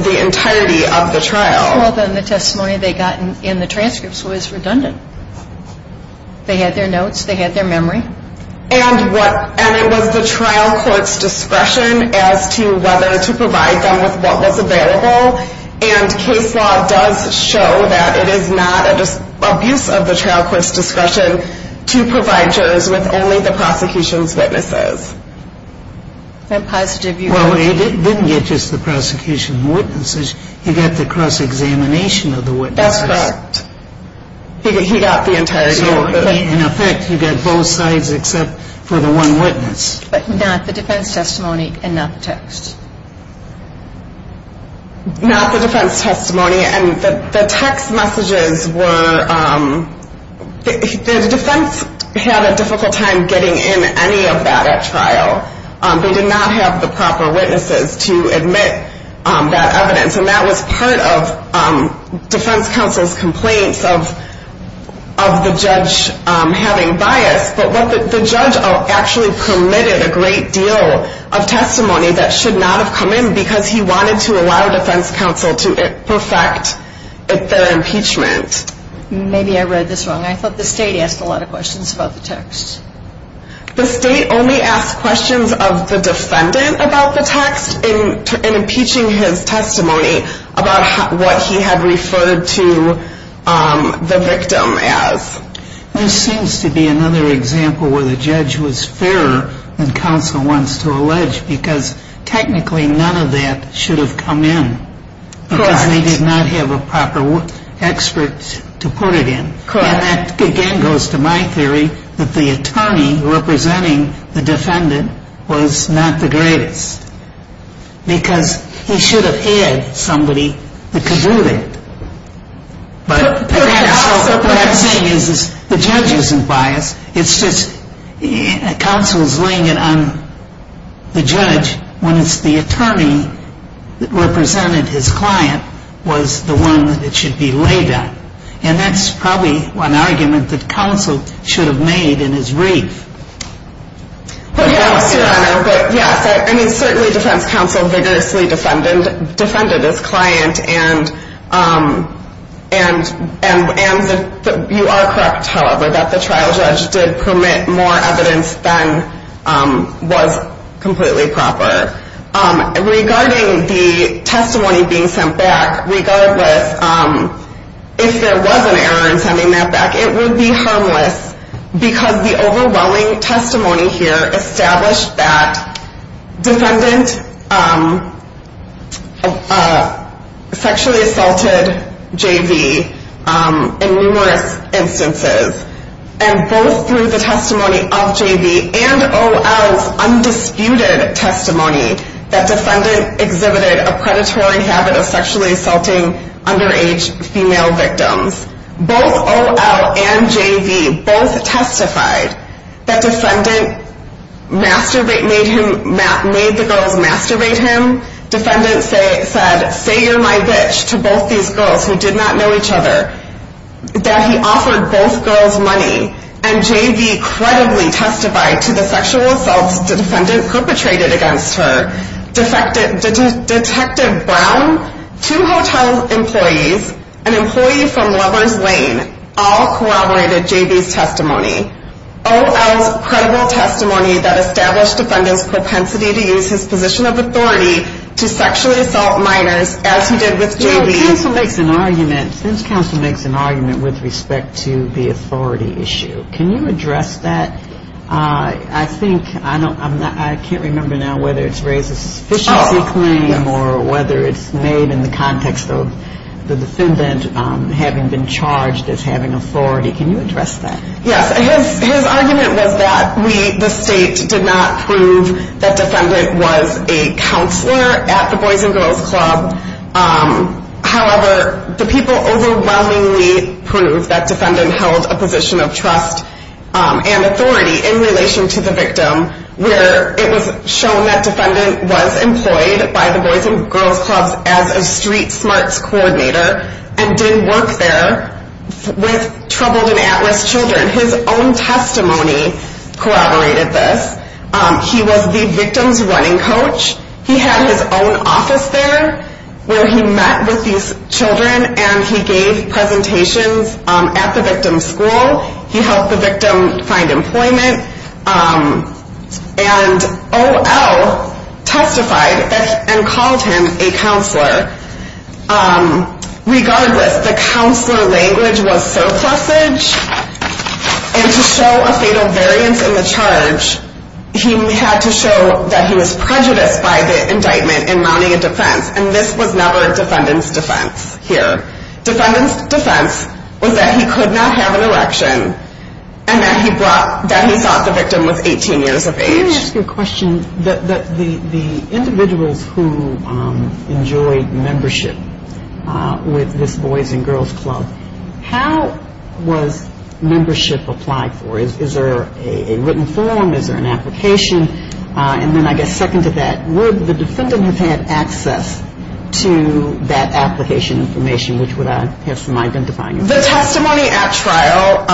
the entirety of the trial. Well, then the testimony they got in the transcripts was redundant. They had their notes, they had their memory. And it was the trial court's discretion as to whether to provide them with what was available. And case law does show that it is not an abuse of the trial court's discretion to provide jurors with only the prosecution's witnesses. I'm positive you agree. Well, they didn't get just the prosecution's witnesses. They got the cross-examination of the witnesses. That's correct. He got the entire jury. So, in effect, you got both sides except for the one witness. But not the defense testimony and not the text. Not the defense testimony. And the text messages were the defense had a difficult time getting in any of that at trial. They did not have the proper witnesses to admit that evidence. And that was part of defense counsel's complaints of the judge having bias. But the judge actually permitted a great deal of testimony that should not have come in because he wanted to allow defense counsel to perfect their impeachment. Maybe I read this wrong. I thought the state asked a lot of questions about the text. The state only asked questions of the defendant about the text in impeaching his testimony about what he had referred to the victim as. This seems to be another example where the judge was fairer than counsel wants to allege because technically none of that should have come in because they did not have a proper expert to put it in. And that, again, goes to my theory that the attorney representing the defendant was not the greatest because he should have had somebody that could do that. The judge isn't biased. It's just counsel is laying it on the judge when it's the attorney that represented his client was the one that it should be laid on. And that's probably an argument that counsel should have made in his brief. Yes, certainly defense counsel vigorously defended his client. And you are correct, however, that the trial judge did permit more evidence than was completely proper. Regarding the testimony being sent back, regardless, if there was an error in sending that back, it would be harmless because the overwhelming testimony here established that defendant sexually assaulted JV in numerous instances. And both through the testimony of JV and O.L.'s undisputed testimony that defendant exhibited a predatory habit of sexually assaulting underage female victims. Both O.L. and J.V. both testified that defendant made the girls masturbate him. Defendant said, say you're my bitch to both these girls who did not know each other. That he offered both girls money. And J.V. credibly testified to the sexual assaults the defendant perpetrated against her. Detective Brown, two hotel employees, an employee from Lovers Lane, all corroborated J.V.'s testimony. O.L.'s credible testimony that established defendant's propensity to use his position of authority to sexually assault minors as he did with J.V. Since counsel makes an argument with respect to the authority issue, can you address that? I think, I can't remember now whether it's raised as a sufficiency claim or whether it's made in the context of the defendant having been charged as having authority. Can you address that? Yes, his argument was that the state did not prove that defendant was a counselor at the Boys and Girls Club. However, the people overwhelmingly proved that defendant held a position of trust and authority in relation to the victim. Where it was shown that defendant was employed by the Boys and Girls Club as a street smarts coordinator. And did work there with troubled and at-risk children. His own testimony corroborated this. He was the victim's running coach. He had his own office there where he met with these children and he gave presentations at the victim's school. He helped the victim find employment. And O.L. testified and called him a counselor. Regardless, the counselor language was surplusage. And to show a fatal variance in the charge, he had to show that he was prejudiced by the indictment in mounting a defense. And this was never defendant's defense here. Defendant's defense was that he could not have an election and that he thought the victim was 18 years of age. Let me ask you a question. The individuals who enjoyed membership with this Boys and Girls Club. How was membership applied for? Is there a written form? Is there an application? And then I guess second to that, would the defendant have had access to that application information? Which would I have some identifying? The testimony at trial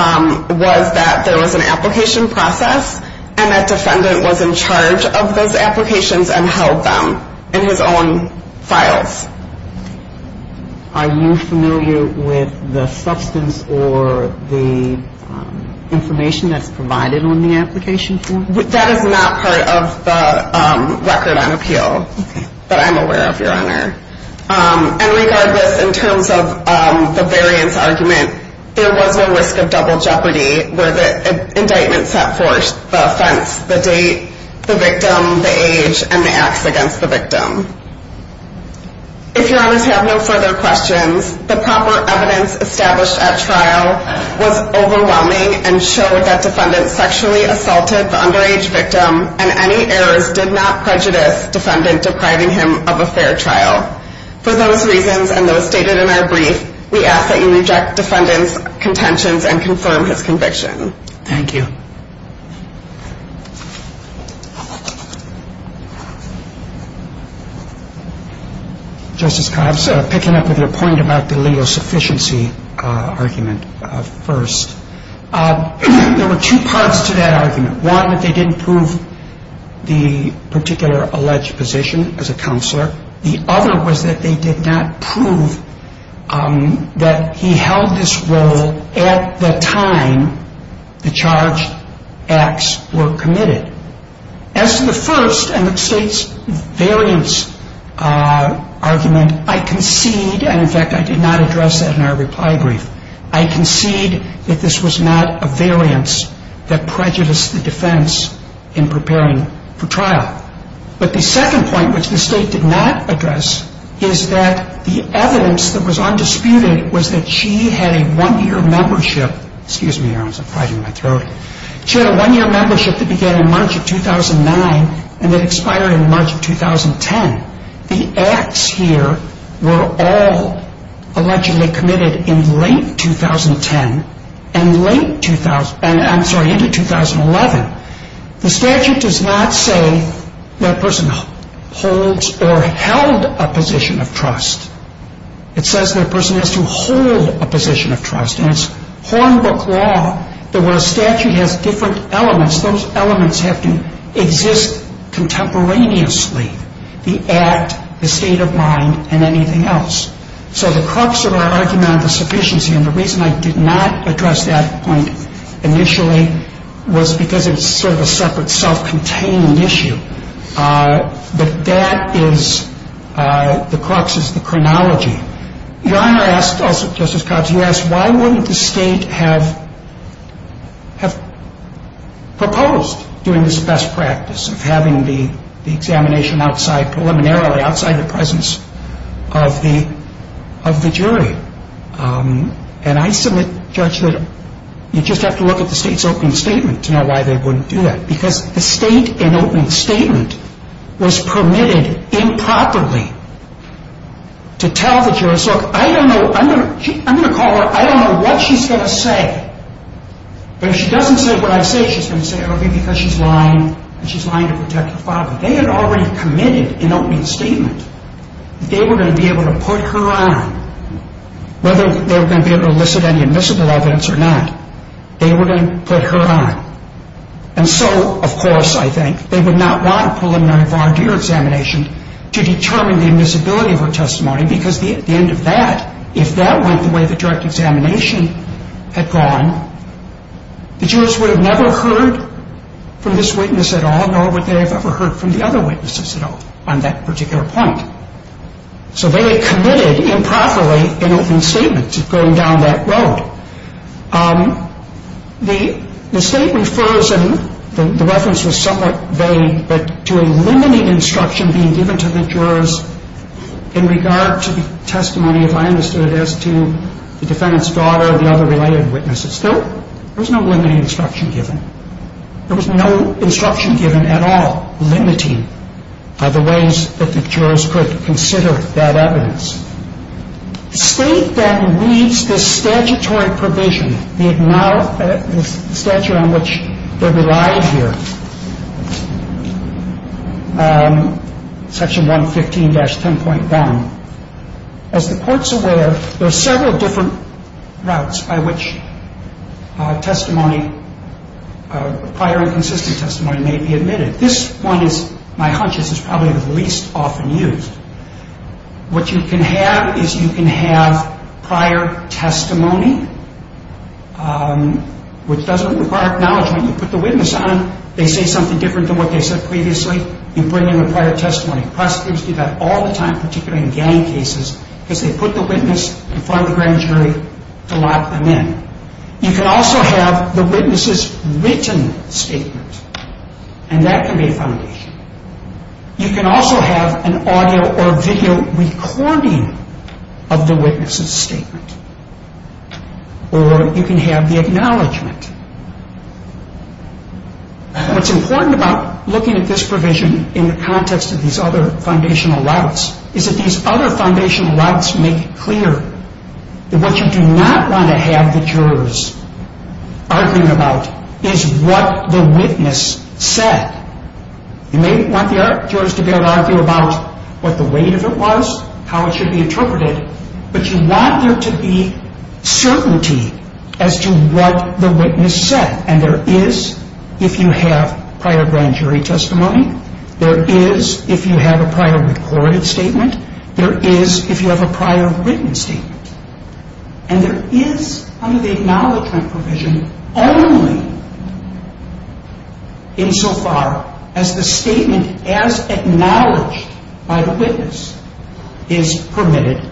was that there was an application process. And that defendant was in charge of those applications and held them in his own files. Are you familiar with the substance or the information that's provided on the application form? That is not part of the record on appeal that I'm aware of, Your Honor. And regardless, in terms of the variance argument, there was no risk of double jeopardy where the indictment set forth the offense, the date, the victim, the age, and the acts against the victim. If Your Honors have no further questions, the proper evidence established at trial was overwhelming and showed that defendant sexually assaulted the underage victim and any errors did not prejudice defendant depriving him of a fair trial. For those reasons and those stated in our brief, we ask that you reject defendant's contentions and confirm his conviction. Thank you. Justice Cobbs, picking up on your point about the legal sufficiency argument first, there were two parts to that argument. One, that they didn't prove the particular alleged position as a counselor. The other was that they did not prove that he held this role at the time the charged acts were committed. As to the first and the State's variance argument, I concede, and in fact I did not address that in our reply brief, I concede that this was not a variance that prejudiced the defense in preparing for trial. But the second point, which the State did not address, is that the evidence that was undisputed was that she had a one-year membership. Excuse me, Your Honors, I have pride in my throat. She had a one-year membership that began in March of 2009 and that expired in March of 2010. The acts here were all allegedly committed in late 2010 and late, I'm sorry, into 2011. The statute does not say that a person holds or held a position of trust. It says that a person has to hold a position of trust, and it's Hornbook law that where a statute has different elements, those elements have to exist contemporaneously, the act, the state of mind, and anything else. So the crux of our argument on the sufficiency, and the reason I did not address that point initially, was because it was sort of a separate, self-contained issue. But that is, the crux is the chronology. Your Honor asked also, Justice Cobbs, you asked why wouldn't the State have proposed doing this best practice of having the examination outside, preliminarily outside the presence of the jury. And I submit, Judge, that you just have to look at the State's opening statement to know why they wouldn't do that. Because the State, in opening statement, was permitted improperly to tell the jurist, look, I don't know, I'm going to call her, I don't know what she's going to say. But if she doesn't say what I say, she's going to say, okay, because she's lying, and she's lying to protect your father. They had already committed, in opening statement, that they were going to be able to put her on. Whether they were going to be able to elicit any admissible evidence or not, they were going to put her on. And so, of course, I think, they would not want a preliminary volunteer examination to determine the admissibility of her testimony, because at the end of that, if that went the way the direct examination had gone, the jurist would have never heard from this witness at all, nor would they have ever heard from the other witnesses at all on that particular point. So they had committed improperly, in opening statement, to going down that road. The State refers, and the reference was somewhat vague, but to eliminating instruction being given to the jurors in regard to the testimony, if I understood it, as to the defendant's daughter or the other related witnesses. Still, there was no limiting instruction given. There was no instruction given at all limiting the ways that the jurors could consider that evidence. The State then reads this statutory provision, the statute on which they relied here, Section 115-10.1. As the courts are aware, there are several different routes by which testimony, prior and consistent testimony, may be admitted. This one is, my hunch, this is probably the least often used. What you can have is you can have prior testimony, which doesn't require acknowledgement. You put the witness on, they say something different than what they said previously, you bring in the prior testimony. Prosecutors do that all the time, particularly in gang cases, because they put the witness in front of the grand jury to lock them in. You can also have the witness's written statement, and that can be a foundation. You can also have an audio or video recording of the witness's statement, or you can have the acknowledgement. What's important about looking at this provision in the context of these other foundational routes is that these other foundational routes make it clear that what you do not want to have the jurors arguing about is what the witness said. You may want the jurors to be able to argue about what the weight of it was, how it should be interpreted, but you want there to be certainty as to what the witness said. And there is if you have prior grand jury testimony. There is if you have a prior recorded statement. There is if you have a prior written statement. And there is under the acknowledgement provision only insofar as the statement as acknowledged by the witness is permitted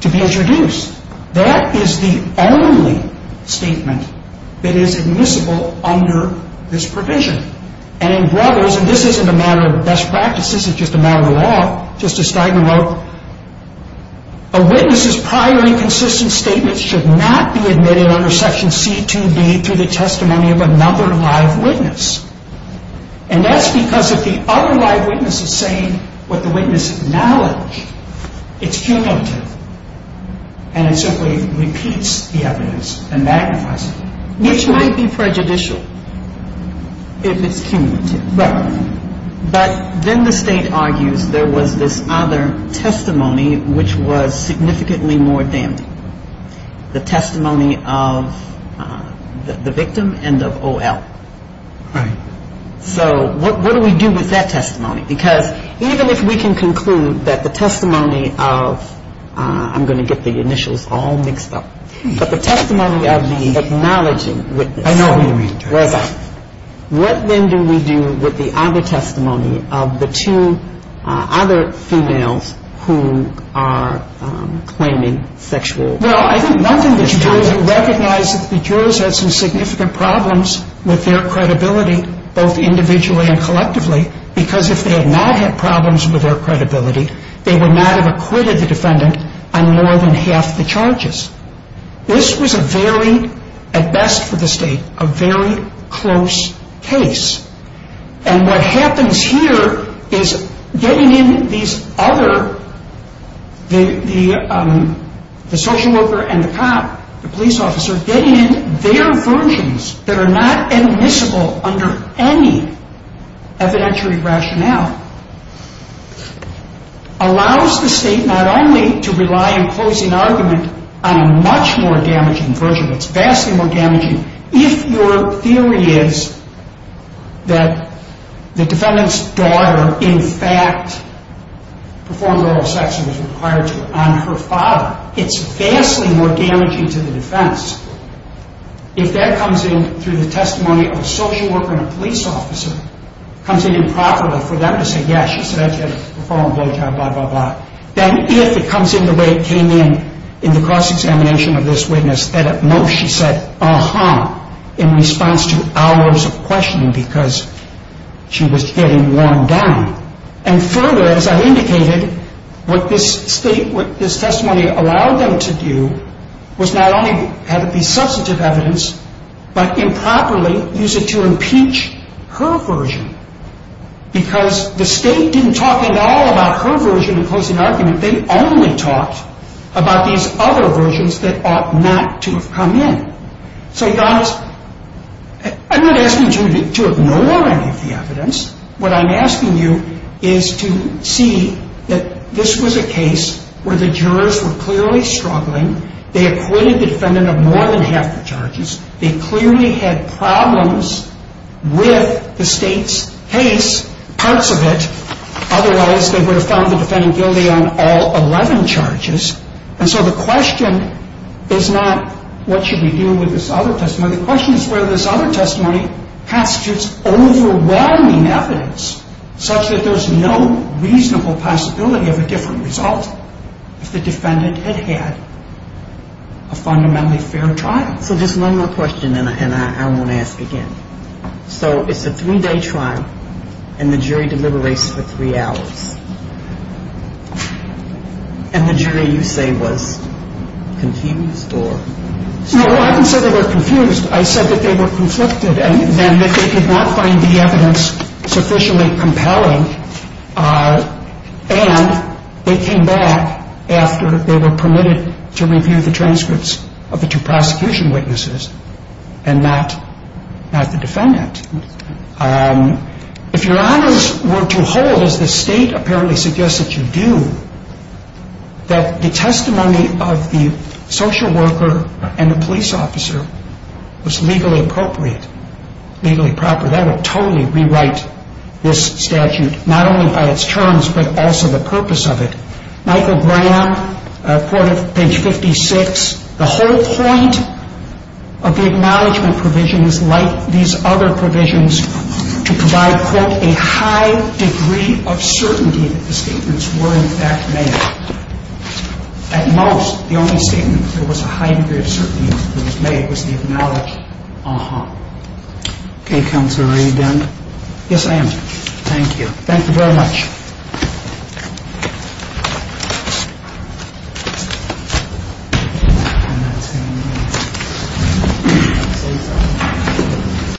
to be introduced. That is the only statement that is admissible under this provision. And in brothers, and this isn't a matter of best practices, it's just a matter of law, a witness's prior inconsistent statement should not be admitted under section C2B through the testimony of another live witness. And that's because if the other live witness is saying what the witness acknowledged, it's cumulative. And it simply repeats the evidence and magnifies it. Which might be prejudicial if it's cumulative. Right. But then the state argues there was this other testimony which was significantly more damning. The testimony of the victim and of O.L. Right. So what do we do with that testimony? Because even if we can conclude that the testimony of, I'm going to get the initials all mixed up, but the testimony of the acknowledging witness. I know. What then do we do with the other testimony of the two other females who are claiming sexual misconduct? Well, I think one thing that you do is recognize that the jurors had some significant problems with their credibility, both individually and collectively, because if they had not had problems with their credibility, they would not have acquitted the defendant on more than half the charges. This was a very, at best for the state, a very close case. And what happens here is getting in these other, the social worker and the cop, the police officer, getting in their versions that are not admissible under any evidentiary rationale, allows the state not only to rely in closing argument on a much more damaging version, it's vastly more damaging, if your theory is that the defendant's daughter in fact performed oral sex and was required to on her father, it's vastly more damaging to the defense. If that comes in through the testimony of a social worker and a police officer, comes in improperly for them to say, yes, she said that, she had a foreign blowjob, blah, blah, blah. Then if it comes in the way it came in, in the cross-examination of this witness, that at most she said, uh-huh, in response to hours of questioning because she was getting worn down. And further, as I indicated, what this testimony allowed them to do was not only have it be substantive evidence, but improperly use it to impeach her version. Because the state didn't talk at all about her version in closing argument. They only talked about these other versions that ought not to have come in. So, I'm not asking you to ignore any of the evidence. What I'm asking you is to see that this was a case where the jurors were clearly struggling. They acquitted the defendant of more than half the charges. They clearly had problems with the state's case, parts of it. Otherwise, they would have found the defendant guilty on all 11 charges. And so the question is not what should we do with this other testimony. The question is whether this other testimony constitutes overwhelming evidence, such that there's no reasonable possibility of a different result if the defendant had had a fundamentally fair trial. So, just one more question, and I won't ask again. So, it's a three-day trial, and the jury deliberates for three hours. And the jury, you say, was confused, or? No, I didn't say they were confused. I said that they were conflicted and that they could not find the evidence sufficiently compelling. And they came back after they were permitted to review the transcripts of the two prosecution witnesses and not the defendant. If your honors were to hold, as the state apparently suggests that you do, that the testimony of the social worker and the police officer was legally appropriate, legally proper, that would totally rewrite this statute, not only by its terms but also the purpose of it. Michael Graham quoted page 56. The whole point of the acknowledgement provision is like these other provisions to provide, quote, a high degree of certainty that the statements were, in fact, made. At most, the only statement that there was a high degree of certainty that it was made was the acknowledgement. Uh-huh. Okay, Counselor, are you done? Yes, I am. Thank you. Thank you very much. Thank you.